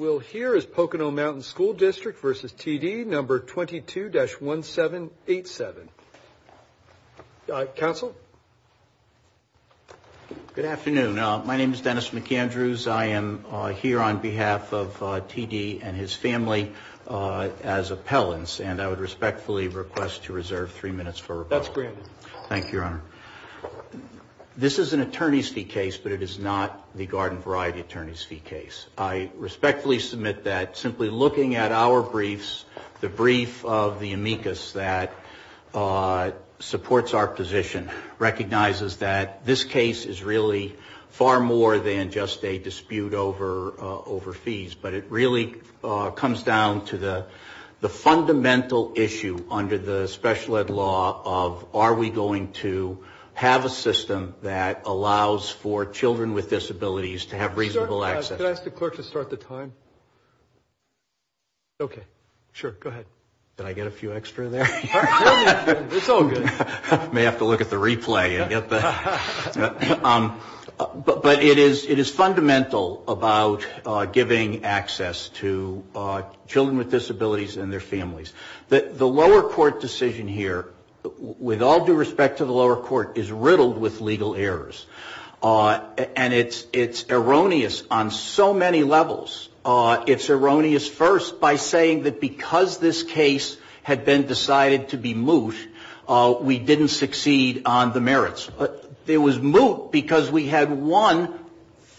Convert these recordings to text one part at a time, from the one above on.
number 22-1787. Council? Good afternoon. My name is Dennis McAndrews. I am here on behalf of T.D. and his family as appellants, and I would respectfully request to reserve three minutes for rebuttal. That's granted. Thank you, Your Honor. This is an attorney's fee case, but it is not the Garden Variety attorney's fee case. I respectfully request to reserve three minutes for rebuttal. Thank you, Your Honor. I respectfully submit that simply looking at our briefs, the brief of the amicus that supports our position recognizes that this case is really far more than just a dispute over fees, but it really comes down to the fundamental issue under the special ed law of are we going to have a system that allows for children with disabilities to have reasonable access? Can I ask the clerk to start the time? Okay. Sure. Go ahead. Did I get a few extra there? It's all good. May have to look at the replay and get that. But it is fundamental about giving access to children with disabilities and their families. The lower court decision here, with all due respect to the lower court, is riddled with legal errors. And it's erroneous on so many levels. It's erroneous first by saying that because this case had been decided to be moot, we didn't succeed on the merits. It was moot because we had won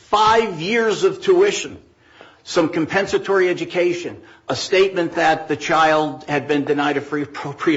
five years of tuition, some compensatory education, a statement that the child had been denied a free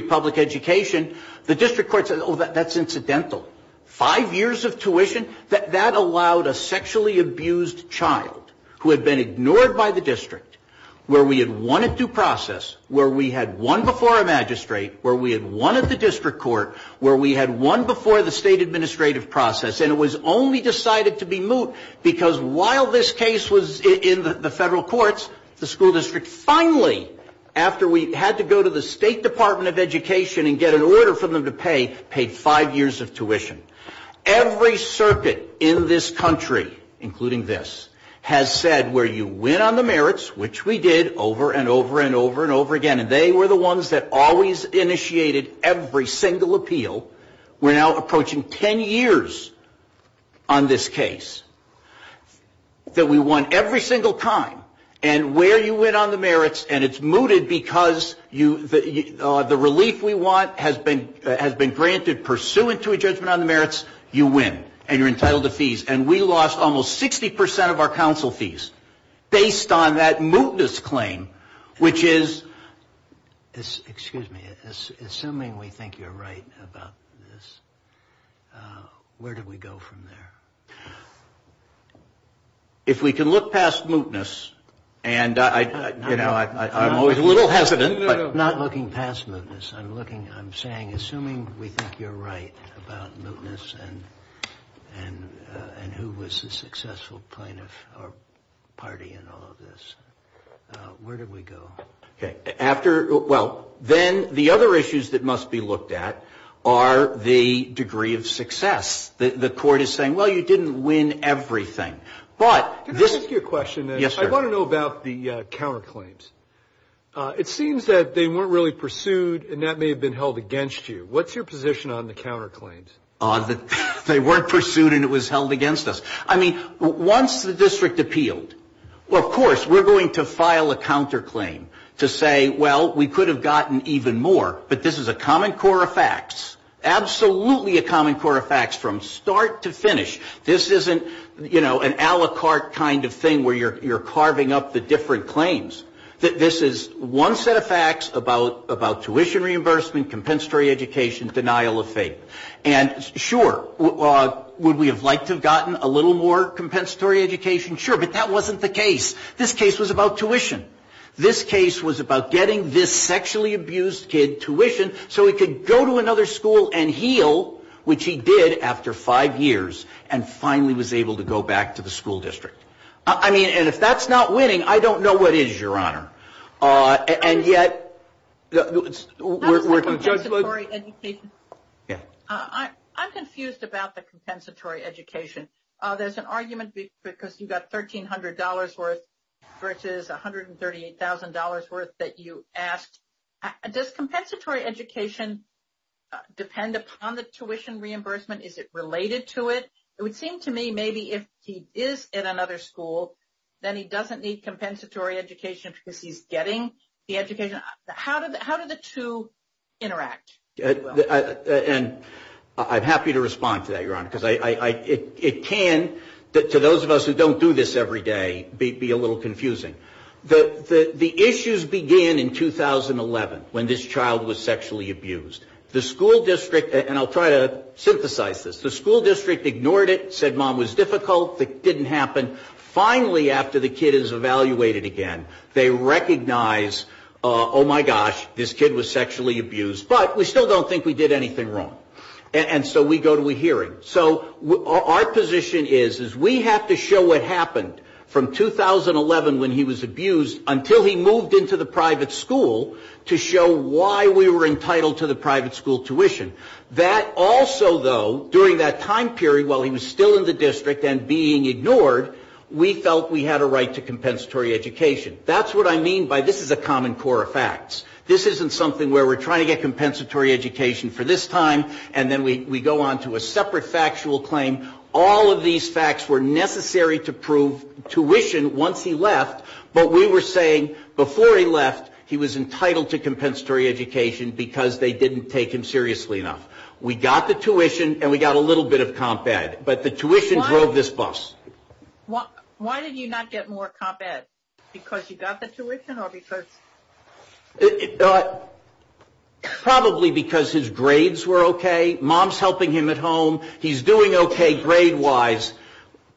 public education. The district court said, oh, that's incidental. Five years of tuition, that allowed a sexually abused child who had been ignored by the district, where we had won at due process, where we had won before a magistrate, where we had won at the district court, where we had won before the state administrative process, and it was only decided to be moot because while this case was in the federal courts, the school district finally, after we had to go to the state department of education and get an order for them to pay, paid five years of tuition. Every circuit in this country, including this, has said where you win on the merits, which we did over and over and over and over again, and they were the ones that always initiated every single appeal. We're now approaching 10 years on this case that we won every single time, and where you win on the merits, and it's mooted because the relief we want has been granted pursuant to a judgment on the merits, you win, and you're entitled to fees. And we lost almost 60% of our council fees based on that mootness claim, which is, excuse me, assuming we think you're right about this, where do we go from there? If we can look past mootness, and I'm always a little hesitant, but not looking past mootness, I'm looking, I'm saying assuming we think you're right about mootness and who was the successful plaintiff or party in all of this, where do we go? After, well, then the other issues that must be looked at are the degree of success. The court is saying, well, you didn't win everything. But this is. Can I ask you a question? Yes, sir. I want to know about the counterclaims. It seems that they weren't really pursued, and that may have been held against you. What's your position on the counterclaims? They weren't pursued, and it was held against us. I mean, once the district appealed, well, of course, we're going to file a counterclaim to say, well, we could have gotten even more, but this is a common core of facts, absolutely a common core of facts from start to finish. This isn't, you know, an a la carte kind of thing where you're carving up the different claims. This is one set of facts about tuition reimbursement, compensatory education, denial of fate. And, sure, would we have liked to have gotten a little more compensatory education? Sure, but that wasn't the case. This case was about tuition. This case was about getting this sexually abused kid tuition so he could go to another school and heal, which he did after five years, and finally was able to go back to the school district. I mean, and if that's not winning, I don't know what is, Your Honor. And yet, we're in judgment. I'm confused about the compensatory education. There's an argument because you got $1,300 worth versus $138,000 worth that you asked. Does compensatory education depend upon the tuition reimbursement? Is it related to it? It would seem to me maybe if he is in another school, then he doesn't need compensatory education because he's getting the education. How do the two interact? And I'm happy to respond to that, Your Honor, because it can, to those of us who don't do this every day, be a little confusing. The issues began in 2011 when this child was sexually abused. The school district, and I'll try to synthesize this, the school district ignored it, said, Mom, it was difficult, it didn't happen. Finally, after the kid is evaluated again, they recognize, oh, my gosh, this kid was sexually abused, but we still don't think we did anything wrong. And so we go to a hearing. So our position is, is we have to show what happened from 2011 when he was abused until he moved into the private school to show why we were entitled to the private school tuition. That also, though, during that time period while he was still in the district and being ignored, we felt we had a right to compensatory education. That's what I mean by this is a common core of facts. This isn't something where we're trying to get compensatory education for this time and then we go on to a separate factual claim. All of these facts were necessary to prove tuition once he left, but we were saying before he left, he was entitled to compensatory education because they didn't take him seriously enough. We got the tuition and we got a little bit of comp ed, but the tuition drove this bus. Why did you not get more comp ed? Because you got the tuition or because? Probably because his grades were okay. Mom's helping him at home. He's doing okay grade-wise.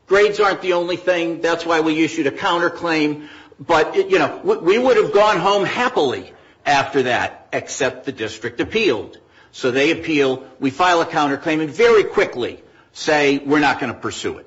Grades aren't the only thing. That's why we issued a counterclaim. But, you know, we would have gone home happily after that, except the district appealed. So they appeal. We file a counterclaim and very quickly say we're not going to pursue it.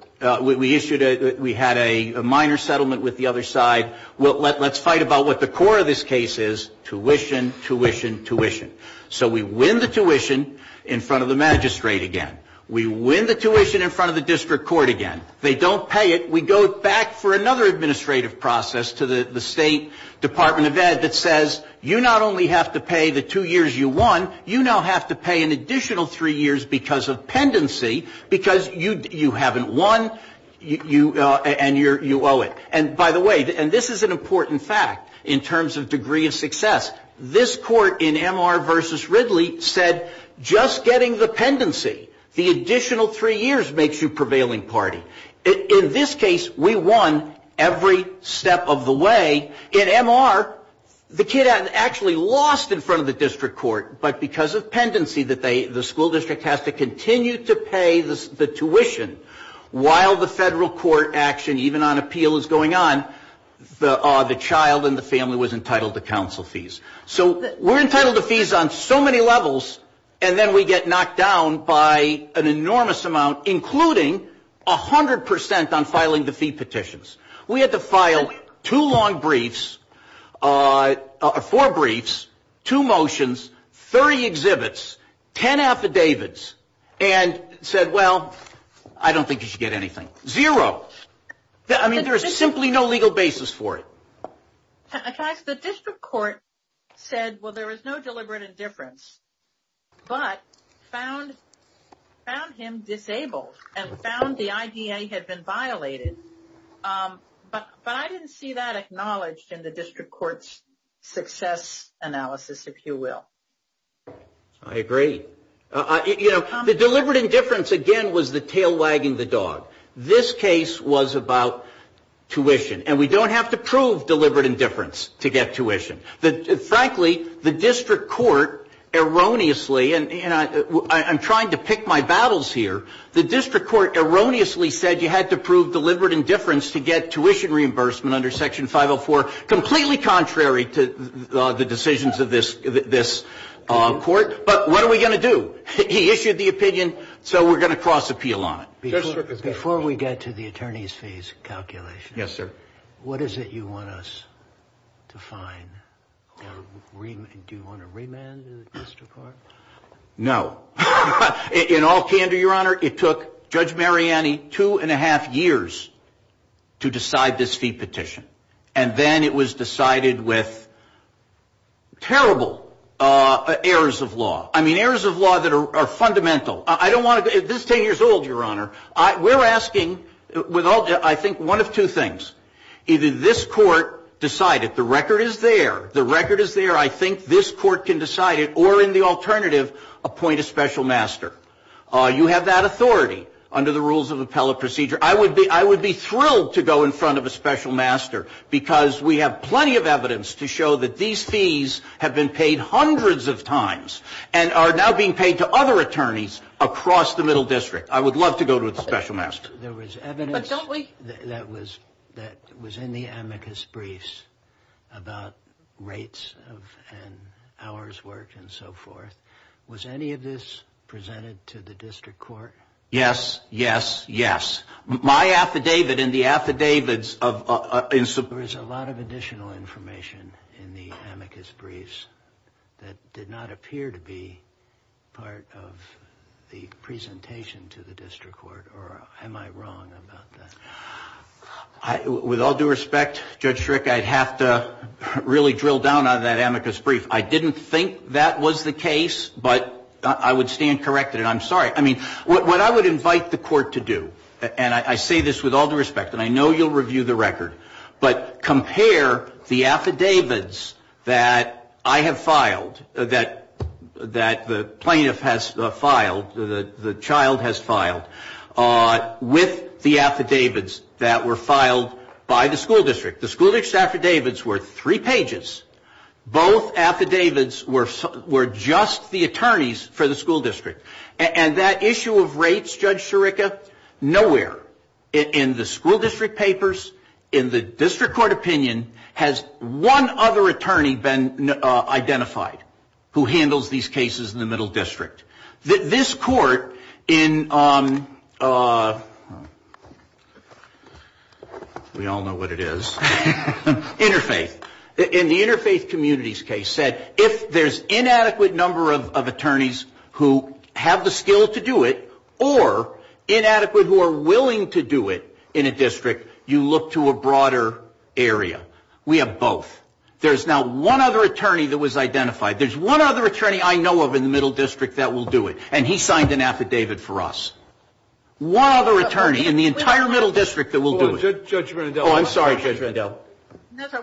We had a minor settlement with the other side. Let's fight about what the core of this case is, tuition, tuition, tuition. So we win the tuition in front of the magistrate again. We win the tuition in front of the district court again. They don't pay it. We go back for another administrative process to the State Department of Ed that says you not only have to pay the two years you won, you don't have to pay the two years you lost. You now have to pay an additional three years because of pendency because you haven't won and you owe it. And by the way, and this is an important fact in terms of degree of success, this court in M.R. versus Ridley said just getting the pendency, the additional three years makes you prevailing party. In this case, we won every step of the way. In M.R., the kid hadn't actually lost in front of the district court, but because of pendency. The school district has to continue to pay the tuition while the federal court action, even on appeal, is going on, the child and the family was entitled to council fees. So we're entitled to fees on so many levels, and then we get knocked down by an enormous amount, including 100% on filing the fee petitions. We had to file two long briefs, four briefs, two motions, 30 exhibits, and then we had to pay the tuition. We had to file two long briefs, four motions, 30 exhibits, 10 affidavits, and said, well, I don't think you should get anything. Zero. I mean, there is simply no legal basis for it. In fact, the district court said, well, there is no deliberate indifference, but found him disabled and found the IDA had been violated. But I didn't see that acknowledged in the district court's success analysis, if you will. I agree. You know, the deliberate indifference, again, was the tail wagging the dog. This case was about tuition, and we don't have to prove deliberate indifference to get tuition. Frankly, the district court erroneously, and I'm trying to pick my battles here, the district court erroneously said you had to prove deliberate indifference to get tuition reimbursement under Section 504, completely contrary to the decisions of this court. So what are we going to do? He issued the opinion, so we're going to cross appeal on it. Before we get to the attorney's fees calculation, what is it you want us to find? Do you want to remand the district court? No. In all candor, Your Honor, it took Judge Mariani two and a half years to decide this fee petition, and then it was decided with terrible errors of law. I mean, errors of law that are fundamental. This is 10 years old, Your Honor. We're asking, I think, one of two things. Either this court decide it. The record is there. The record is there. I think this court can decide it. Or in the alternative, appoint a special master. You have that authority under the rules of appellate procedure. I would be thrilled to go in front of a special master, because we have plenty of evidence to show that these fees have been paid hundreds of times. And are now being paid to other attorneys across the Middle District. I would love to go to a special master. There was evidence that was in the amicus briefs about rates and hours worked and so forth. Was any of this presented to the district court? Yes, yes, yes. My affidavit and the affidavits of... There is a lot of additional information in the amicus briefs that did not appear to be part of the presentation to the district court, or am I wrong about that? With all due respect, Judge Strick, I'd have to really drill down on that amicus brief. I didn't think that was the case, but I would stand corrected, and I'm sorry. I mean, what I would invite the court to do, and I say this with all due respect, and I know you'll review the record, but compare the affidavits that I have filed, that the plaintiff has filed, the child has filed, with the affidavits that were filed by the school district. The school district affidavits were three pages. Both affidavits were just the attorneys for the school district. And that issue of rates, Judge Sciarica, nowhere in the school district papers, in the district court opinion, has one other attorney been identified who handles these cases in the middle district. This court in... We all know what it is. Interfaith. In the interfaith communities case said if there's inadequate number of attorneys who have the skill to do it, or inadequate who are willing to do it in a district, you look to a broader area. We have both. There's now one other attorney that was identified. There's one other attorney I know of in the middle district that will do it, and he signed an affidavit for us. One other attorney in the entire middle district that will do it.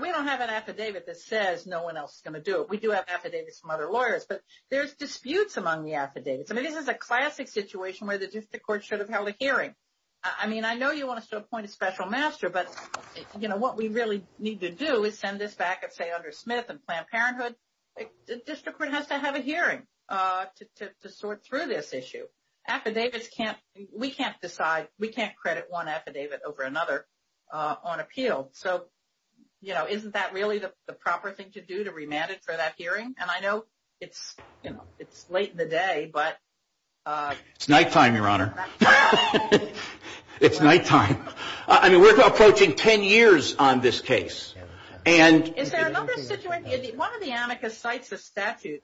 We don't have an affidavit that says no one else is going to do it. We do have affidavits from other lawyers, but there's disputes among the affidavits. I mean, this is a classic situation where the district court should have held a hearing. I mean, I know you want to appoint a special master, but, you know, what we really need to do is send this back and say, under Smith and Planned Parenthood, the district court has to have a hearing to sort through this issue. Affidavits can't... We can't decide. We can't credit one affidavit over another on appeal. So, you know, isn't that really the proper thing to do to remand it for that hearing? And I know it's, you know, it's late in the day, but... It's nighttime, Your Honor. It's nighttime. I mean, we're approaching 10 years on this case, and... Is there another situation... One of the amicus cites a statute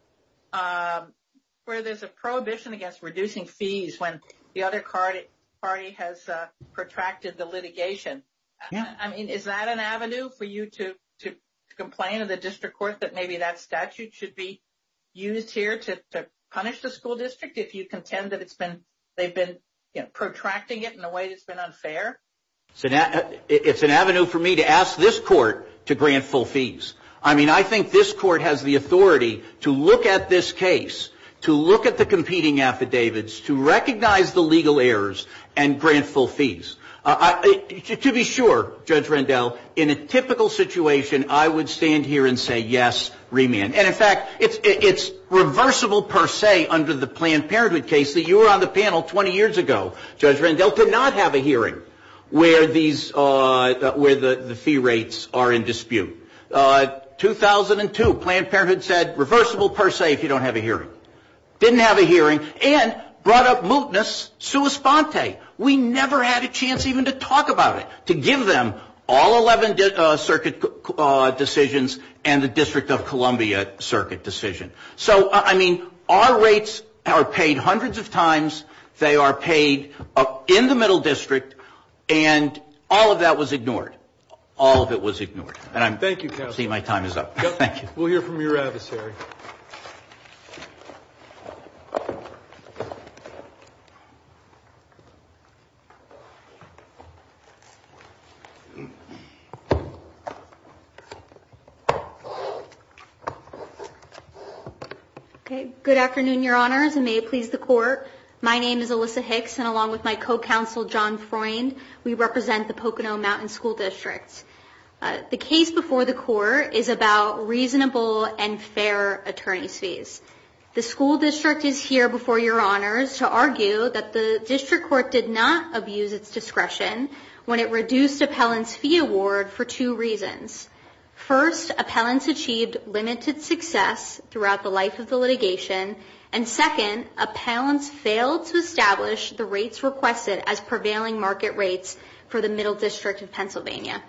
where there's a prohibition against reducing fees when the other party has protracted the litigation. I mean, is that an avenue for you to complain to the district court that maybe that statute should be used here to punish the school district if you contend that it's been... They've been protracting it in a way that's been unfair? It's an avenue for me to ask this court to grant full fees. I mean, I think this court has the authority to look at this case, to look at the competing affidavits, to recognize the legal errors, and grant full fees. To be sure, Judge Rendell, in a typical situation, I would stand here and say, yes, remand. And in fact, it's reversible per se under the Planned Parenthood case that you were on the panel 20 years ago. Judge Rendell did not have a hearing where these, where the fee rates are in dispute. 2002, Planned Parenthood said, reversible per se if you don't have a hearing. Didn't have a hearing, and brought up mootness sua sponte. We never had a chance even to talk about it. To give them all 11 circuit decisions and the District of Columbia circuit decision. So, I mean, our rates are paid hundreds of times. They are paid in the middle district. And all of that was ignored. All of it was ignored. Thank you, counsel. We'll hear from your adversary. Okay. Good afternoon, your honors, and may it please the court. My name is Alyssa Hicks, and along with my co-counsel, John Freund, we represent the Pocono Mountain School District. The case before the court is about reasonable and fair attorney's fees. The school district is here before your honors to argue that the district court did not abuse its discretion when it reduced appellant's fee award for two reasons. First, appellants achieved limited success throughout the life of the litigation, and second, appellants failed to establish the rates requested as prevailing market rates for the middle district of Pennsylvania.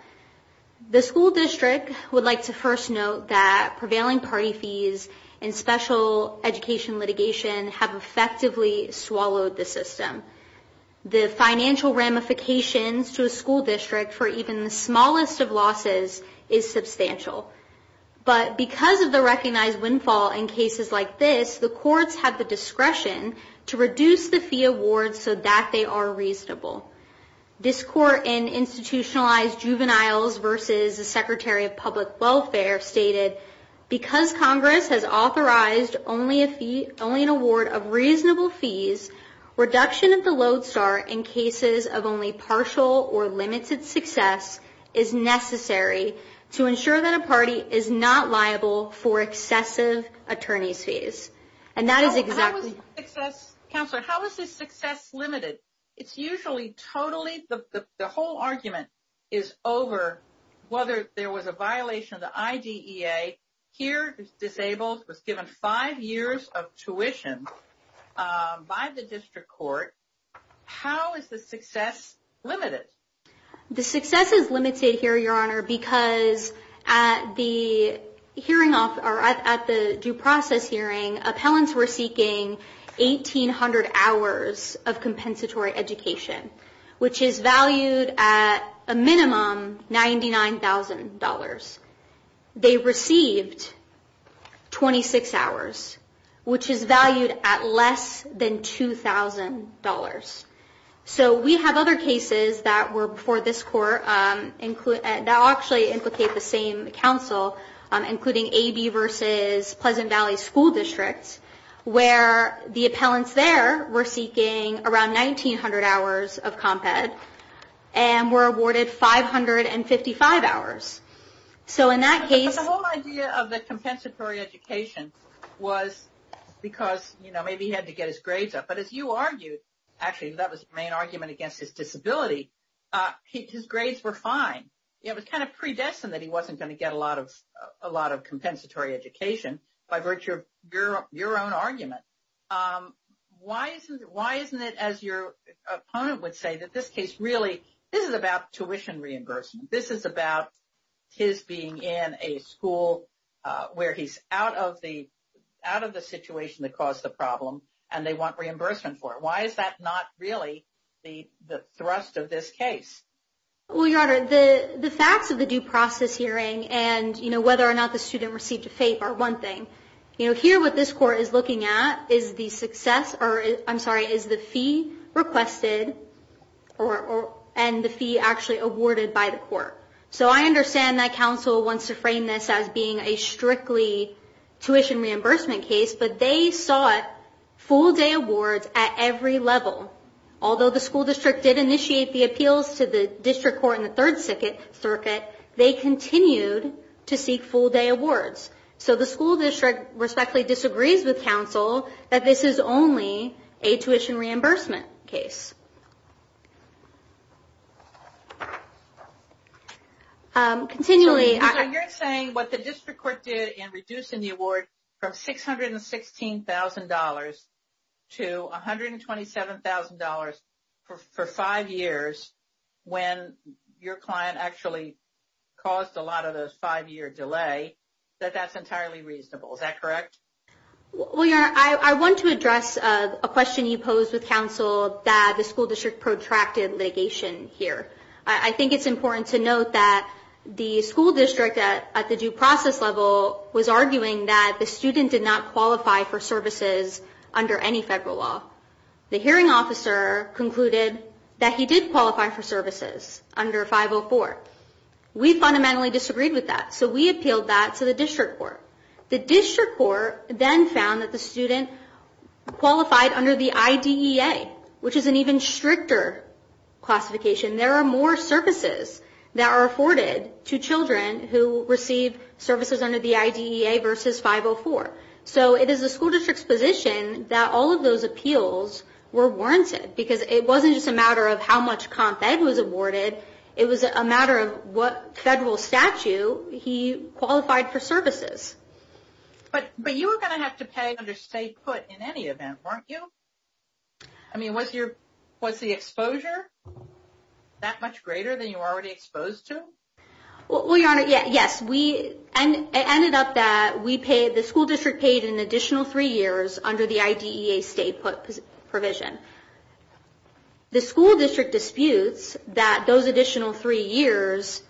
The school district would like to first note that prevailing party fees and special education litigation have effectively swallowed the system. The financial ramifications to a school district for even the smallest of losses is substantial. But because of the recognized windfall in cases like this, the courts have the discretion to reduce the fee awards so that they are reasonable. This court in Institutionalized Juveniles v. the Secretary of Public Welfare stated, because Congress has authorized only an award of reasonable fees, reduction of the load start in cases of only partial or limited success is necessary to ensure that a party is not liable for excessive attorney's fees. Counselor, how is this success limited? The whole argument is over whether there was a violation of the IDEA. Here, the disabled was given five years of tuition by the district court. How is the success limited? The success is limited here, Your Honor, because at the due process hearing, appellants were seeking 1,800 hours of compensatory education, which is valued at a minimum $99,000. They received 26 hours, which is valued at less than $2,000. So we have other cases that were before this court that actually implicate the same counsel, including AB v. Pleasant Valley School District, where the appellants there were seeking around 1,900 hours of comp ed and were awarded 555 hours. But the whole idea of the compensatory education was because maybe he had to get his grades up. But as you argued, actually that was the main argument against his disability, his grades were fine. It was kind of predestined that he wasn't going to get a lot of compensatory education by virtue of your own argument. Why isn't it, as your opponent would say, that this case really, this is about tuition reimbursement. This is about his being in a school where he's out of the situation that caused the problem and they want reimbursement for it. Why is that not really the thrust of this case? Well, Your Honor, the facts of the due process hearing and whether or not the student received a FAPE are one thing. Here what this court is looking at is the fee requested and the fee actually awarded by the court. So I understand that counsel wants to frame this as being a strictly tuition reimbursement case, but they sought full day awards at every level. Although the school district did initiate the appeals to the district court in the third circuit, they continued to seek full day awards. So the school district respectfully disagrees with counsel that this is only a tuition reimbursement case. So you're saying what the district court did in reducing the award from $616,000 to $127,000 for five years, when your client actually caused a lot of those five-year delay, that that's entirely reasonable. Is that correct? Well, Your Honor, I want to address a question you posed with counsel that the school district did not agree with. And the school district protracted litigation here. I think it's important to note that the school district at the due process level was arguing that the student did not qualify for services under any federal law. The hearing officer concluded that he did qualify for services under 504. We fundamentally disagreed with that, so we appealed that to the district court. The district court then found that the student qualified under the IDEA, which is an even stricter classification. There are more services that are afforded to children who receive services under the IDEA versus 504. So it is the school district's position that all of those appeals were warranted, because it wasn't just a matter of how much comp ed was awarded. It was a matter of what federal statute he qualified for services. But you were going to have to pay under state put in any event, weren't you? I mean, was the exposure that much greater than you were already exposed to? Well, Your Honor, yes. It ended up that the school district paid an additional three years under the IDEA state put provision. The school district disputes that those additional three years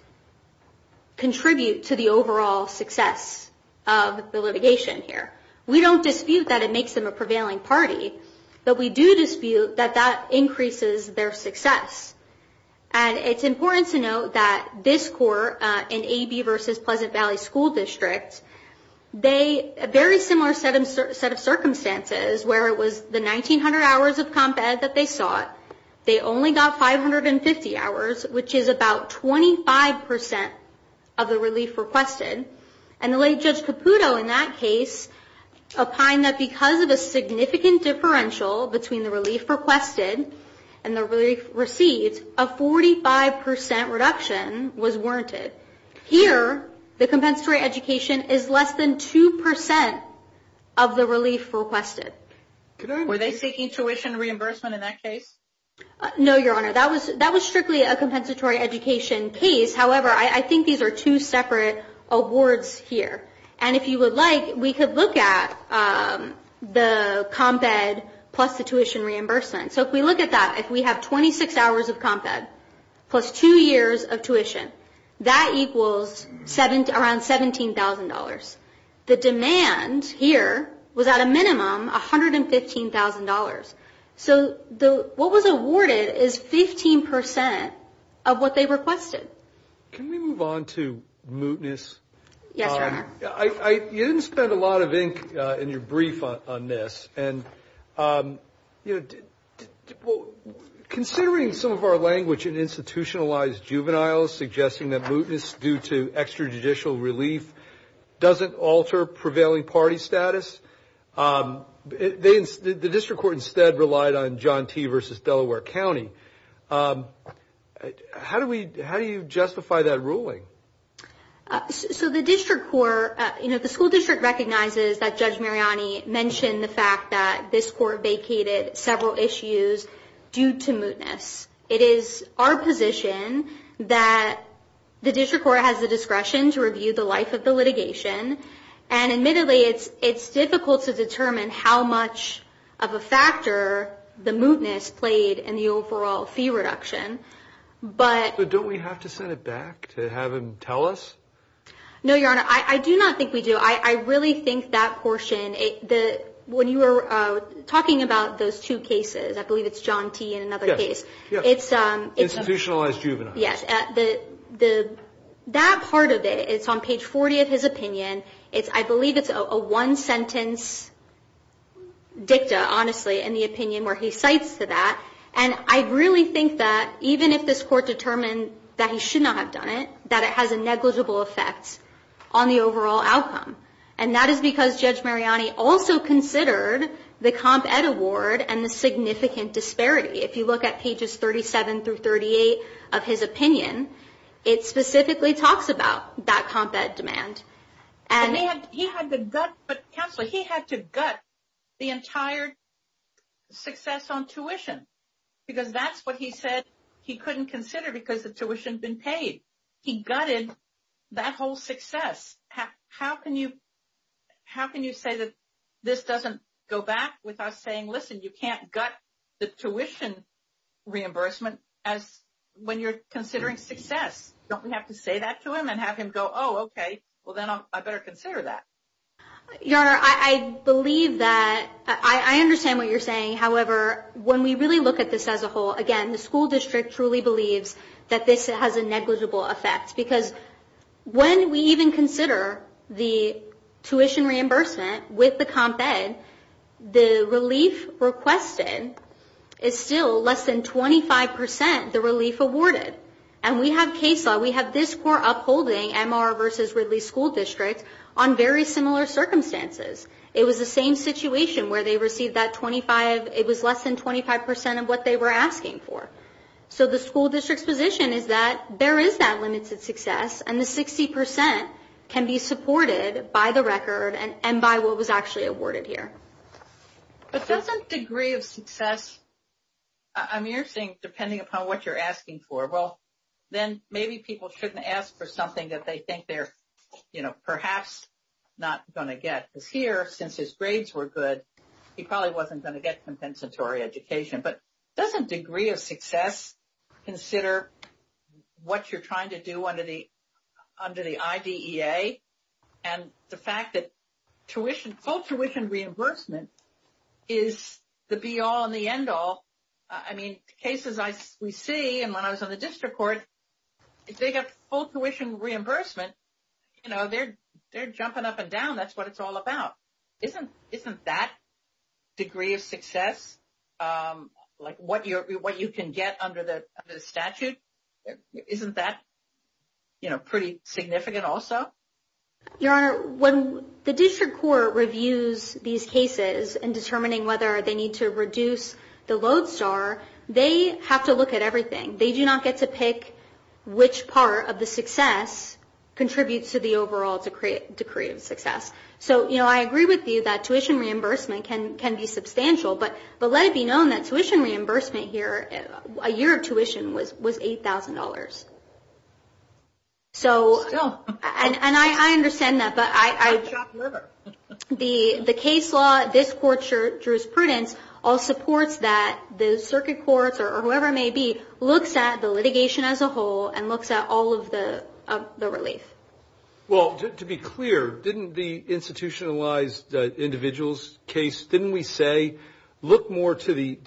contribute to the overall success of the litigation here. We don't dispute that it makes them a prevailing party, but we do dispute that that increases their success. And it's important to note that this court in AB versus Pleasant Valley School District, a very similar set of circumstances where it was the 1,900 hours of comp ed that they sought. They only got 550 hours, which is about 25 percent of the relief requested. And the late Judge Caputo in that case opined that because of a significant differential between the relief requested and the relief received, a 45 percent reduction was warranted. Here, the compensatory education is less than two percent of the relief requested. Were they seeking tuition reimbursement in that case? No, Your Honor, that was strictly a compensatory education case. However, I think these are two separate awards here. And if you would like, we could look at the comp ed plus the tuition reimbursement. So if we look at that, if we have 26 hours of comp ed plus two years of tuition, that equals around $17,000. The demand here was at a minimum $115,000. So what was awarded is 15 percent of what they requested. Can we move on to mootness? Yes, Your Honor. You didn't spend a lot of ink in your brief on this. And, you know, considering some of our language in institutionalized juveniles, suggesting that mootness due to extrajudicial relief doesn't alter prevailing party status, the district court instead relied on John T. versus Delaware County. How do you justify that ruling? So the district court, you know, the school district recognizes that Judge Mariani mentioned the fact that this court vacated several issues due to mootness. It is our position that the district court has the discretion to review the life of the litigation. And admittedly, it's difficult to determine how much of a factor the mootness played in the overall fee reduction. But don't we have to send it back to have him tell us? No, Your Honor, I do not think we do. I really think that portion, when you were talking about those two cases, I believe it's John T. in another case. It's institutionalized juveniles. Yes, that part of it, it's on page 40 of his opinion. I believe it's a one-sentence dicta, honestly, in the opinion where he cites that. And I really think that even if this court determined that he should not have done it, that it has a negligible effect on the overall outcome. And that is because Judge Mariani also considered the Comp Ed award and the significant disparity. If you look at pages 37 through 38 of his opinion, it specifically talks about that Comp Ed demand. He had to gut the entire success on tuition because that's what he said he couldn't consider because the tuition had been paid. He gutted that whole success. How can you say that this doesn't go back with us saying, listen, you can't gut the tuition reimbursement when you're considering success? Don't we have to say that to him and have him go, oh, okay, well then I better consider that? Your Honor, I believe that, I understand what you're saying. However, when we really look at this as a whole, again, the school district truly believes that this has a negligible effect. Because when we even consider the tuition reimbursement with the Comp Ed, the relief requested is still less than 25% the relief awarded. And we have case law, we have this court upholding MR versus Ridley School District on very similar circumstances. It was the same situation where they received that 25, it was less than 25% of what they were asking for. So the school district's position is that there is that limited success and the 60% can be supported by the record and by what was actually awarded here. But doesn't degree of success, I mean, you're saying depending upon what you're asking for. Well, then maybe people shouldn't ask for something that they think they're, you know, perhaps not going to get. Because here, since his grades were good, he probably wasn't going to get compensatory education. But doesn't degree of success consider what you're trying to do under the IDEA? And the fact that full tuition reimbursement is the be-all and the end-all. I mean, cases we see, and when I was on the district court, if they got full tuition reimbursement, you know, they're jumping up and down. That's what it's all about. Isn't that degree of success, like what you can get under the statute, isn't that, you know, pretty significant also? Your Honor, when the district court reviews these cases and determining whether they need to reduce the load star, they have to look at everything. They do not get to pick which part of the success contributes to the overall degree of success. So, you know, I agree with you that tuition reimbursement can be substantial. But let it be known that tuition reimbursement here, a year of tuition, was $8,000. And I understand that. But the case law, this court's jurisprudence all supports that. The circuit courts or whoever it may be looks at the litigation as a whole and looks at all of the relief. Well, to be clear, didn't the institutionalized individuals case, didn't we say look more to the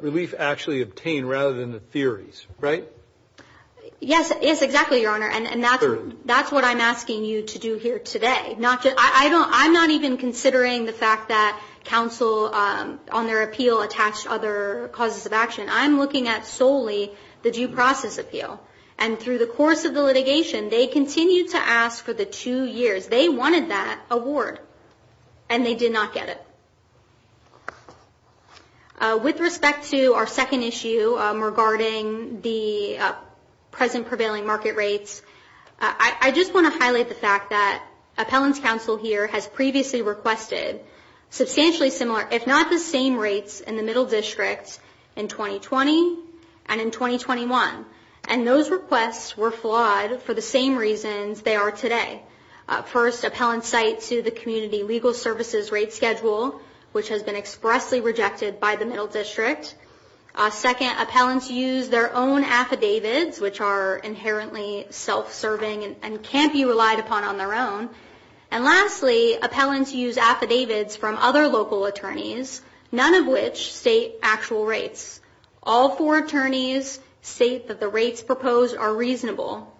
relief actually obtained rather than the theories, right? Yes, exactly, Your Honor. And that's what I'm asking you to do here today. I'm not even considering the fact that counsel on their appeal attached other causes of action. I'm looking at solely the due process appeal. And through the course of the litigation, they continued to ask for the two years. They wanted that award and they did not get it. With respect to our second issue regarding the present prevailing market rates, I just want to highlight the fact that appellant's counsel here has previously requested substantially similar, if not the same rates in the middle districts in 2020 and in 2021. And those requests were flawed for the same reasons they are today. First, appellants cite to the community legal services rate schedule, which has been expressly rejected by the middle district. Second, appellants use their own affidavits, which are inherently self-serving and can't be relied upon on their own. And lastly, appellants use affidavits from other local attorneys, none of which state actual rates. All four attorneys state that the rates proposed are reasonable.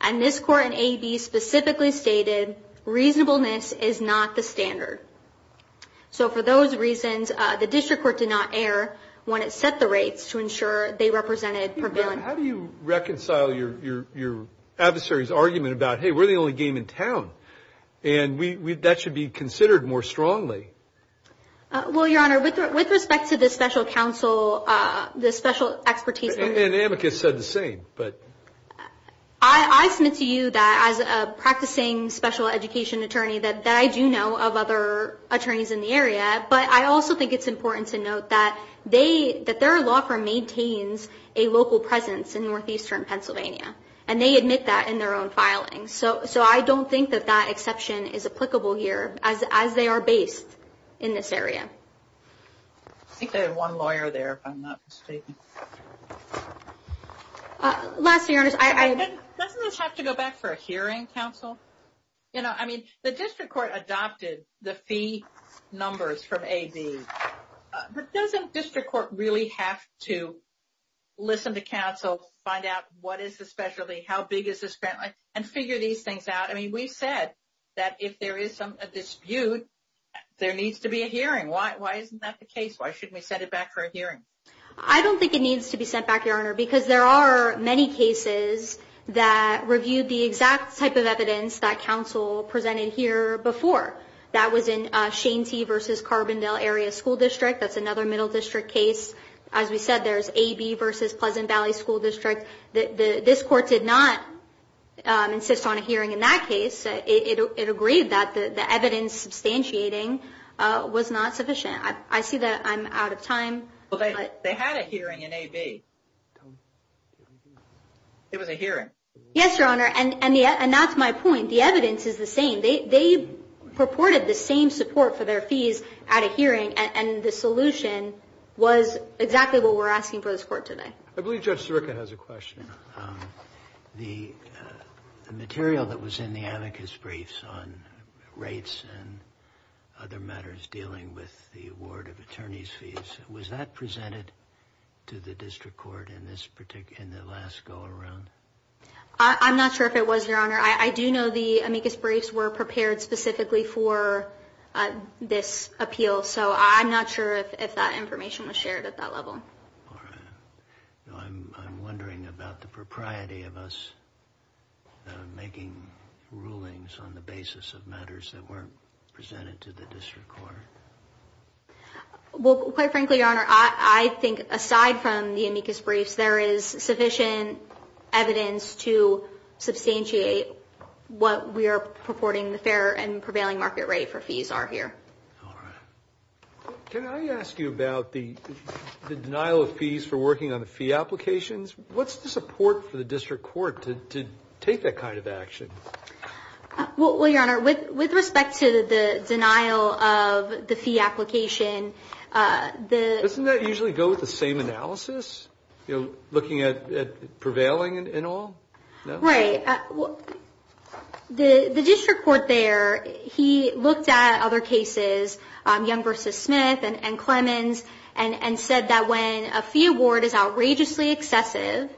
And this court in AB specifically stated reasonableness is not the standard. So for those reasons, the district court did not err when it set the rates to ensure they represented prevailing. How do you reconcile your adversary's argument about, hey, we're the only game in town and that should be considered more strongly? Well, Your Honor, with respect to the special counsel, the special expertise. And amicus said the same, but. I submit to you that as a practicing special education attorney that I do know of other attorneys in the area. But I also think it's important to note that they that their law firm maintains a local presence in northeastern Pennsylvania. And they admit that in their own filing. So so I don't think that that exception is applicable here as as they are based in this area. One lawyer there, if I'm not mistaken. Last year, I didn't have to go back for a hearing. Counsel, you know, I mean, the district court adopted the fee numbers from a B. Doesn't district court really have to listen to counsel, find out what is especially how big is this family and figure these things out? I mean, we said that if there is some dispute, there needs to be a hearing. Why? Why isn't that the case? Why shouldn't we send it back for a hearing? I don't think it needs to be sent back, Your Honor, because there are many cases that reviewed the exact type of evidence that counsel presented here before. That was in Shanty versus Carbondale Area School District. That's another middle district case. As we said, there's a B versus Pleasant Valley School District. This court did not insist on a hearing in that case. It agreed that the evidence substantiating was not sufficient. I see that I'm out of time, but they had a hearing in a B. It was a hearing. Yes, Your Honor. And that's my point. The evidence is the same. They purported the same support for their fees at a hearing. And the solution was exactly what we're asking for this court today. I believe Judge Sirica has a question. The material that was in the amicus briefs on rates and other matters dealing with the award of attorney's fees. Was that presented to the district court in this particular in the last go around? I'm not sure if it was, Your Honor. I do know the amicus briefs were prepared specifically for this appeal. So I'm not sure if that information was shared at that level. I'm wondering about the propriety of us making rulings on the basis of matters that weren't presented to the district court. Well, quite frankly, Your Honor, I think aside from the amicus briefs, there is sufficient evidence to substantiate what we are purporting the fair and prevailing market rate for fees are here. Can I ask you about the denial of fees for working on the fee applications? What's the support for the district court to take that kind of action? Well, Your Honor, with respect to the denial of the fee application, the. Doesn't that usually go with the same analysis? You know, looking at prevailing in all right. The district court there, he looked at other cases, Young versus Smith and Clemens, and said that when a fee award is outrageously excessive,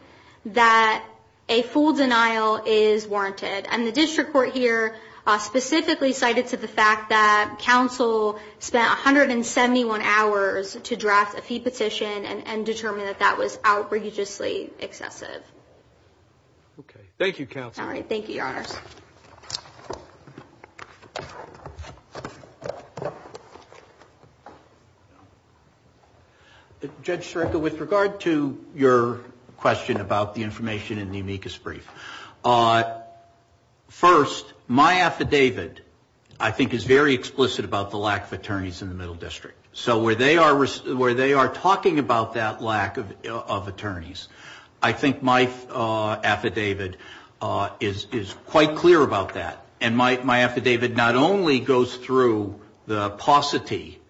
that a full denial is warranted. And the district court here specifically cited to the fact that counsel spent 171 hours to draft a fee petition and determined that that was outrageously excessive. OK, thank you. All right. Thank you, Your Honors. Thank you, Your Honor. Judge Sierka, with regard to your question about the information in the amicus brief. First, my affidavit, I think, is very explicit about the lack of attorneys in the middle district. So where they are talking about that lack of attorneys, I think my affidavit is quite clear about that. And my affidavit not only goes through the paucity,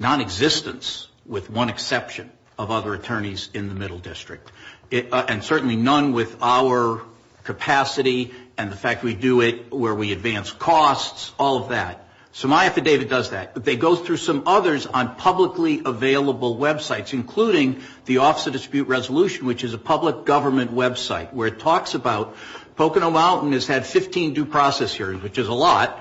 nonexistence, with one exception, of other attorneys in the middle district, and certainly none with our capacity and the fact we do it where we advance costs, all of that. So my affidavit does that. They go through some others on publicly available websites, including the Office of Dispute Resolution, which is a public government website where it talks about Pocono Mountain has had 15 due process hearings, which is a lot,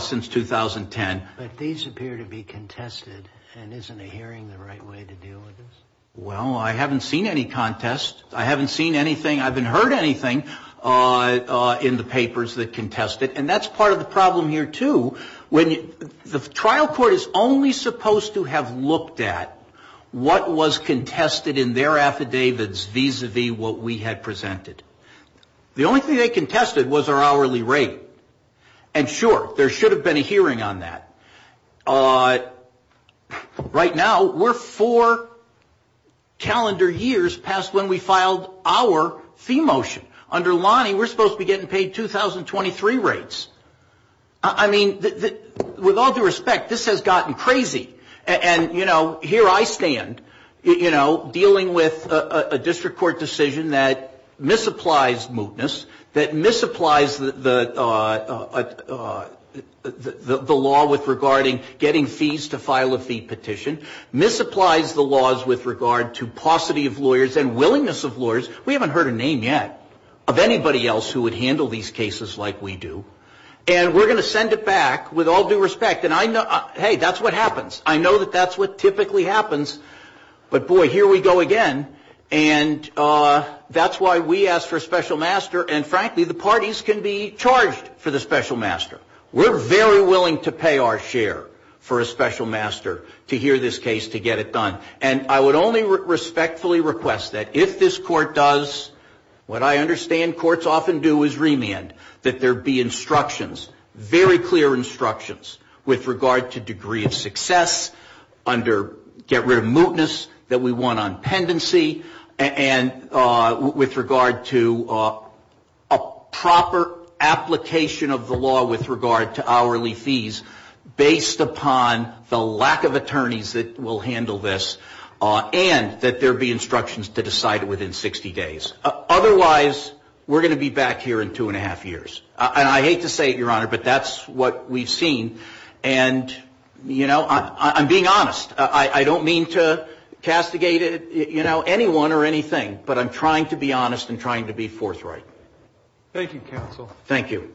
since 2010. But these appear to be contested, and isn't a hearing the right way to deal with this? Well, I haven't seen any contest. I haven't seen anything. I haven't heard anything in the papers that contest it. And that's part of the problem here, too. The trial court is only supposed to have looked at what was contested in their affidavits vis-à-vis what we had presented. The only thing they contested was our hourly rate. And sure, there should have been a hearing on that. Right now, we're four calendar years past when we filed our fee motion. Under Lonnie, we're supposed to be getting paid 2023 rates. I mean, with all due respect, this has gotten crazy. And, you know, here I stand, you know, dealing with a district court decision that misapplies mootness, that misapplies the law with regarding getting fees to file a fee petition, misapplies the laws with regard to paucity of lawyers and willingness of lawyers. We haven't heard a name yet of anybody else who would handle these cases like we do. And we're going to send it back with all due respect. And, hey, that's what happens. I know that that's what typically happens. But, boy, here we go again. And that's why we asked for a special master. And, frankly, the parties can be charged for the special master. We're very willing to pay our share for a special master to hear this case to get it done. And I would only respectfully request that if this court does what I understand courts often do is remand, that there be instructions, very clear instructions, with regard to degree of success, under get rid of mootness that we want on pendency, and with regard to a proper application of the law with regard to hourly fees, based upon the lack of attorneys that will handle this, and that there be instructions to decide it within 60 days. Otherwise, we're going to be back here in two and a half years. And I hate to say it, Your Honor, but that's what we've seen. And, you know, I'm being honest. I don't mean to castigate, you know, anyone or anything, but I'm trying to be honest and trying to be forthright. Thank you, counsel. Thank you.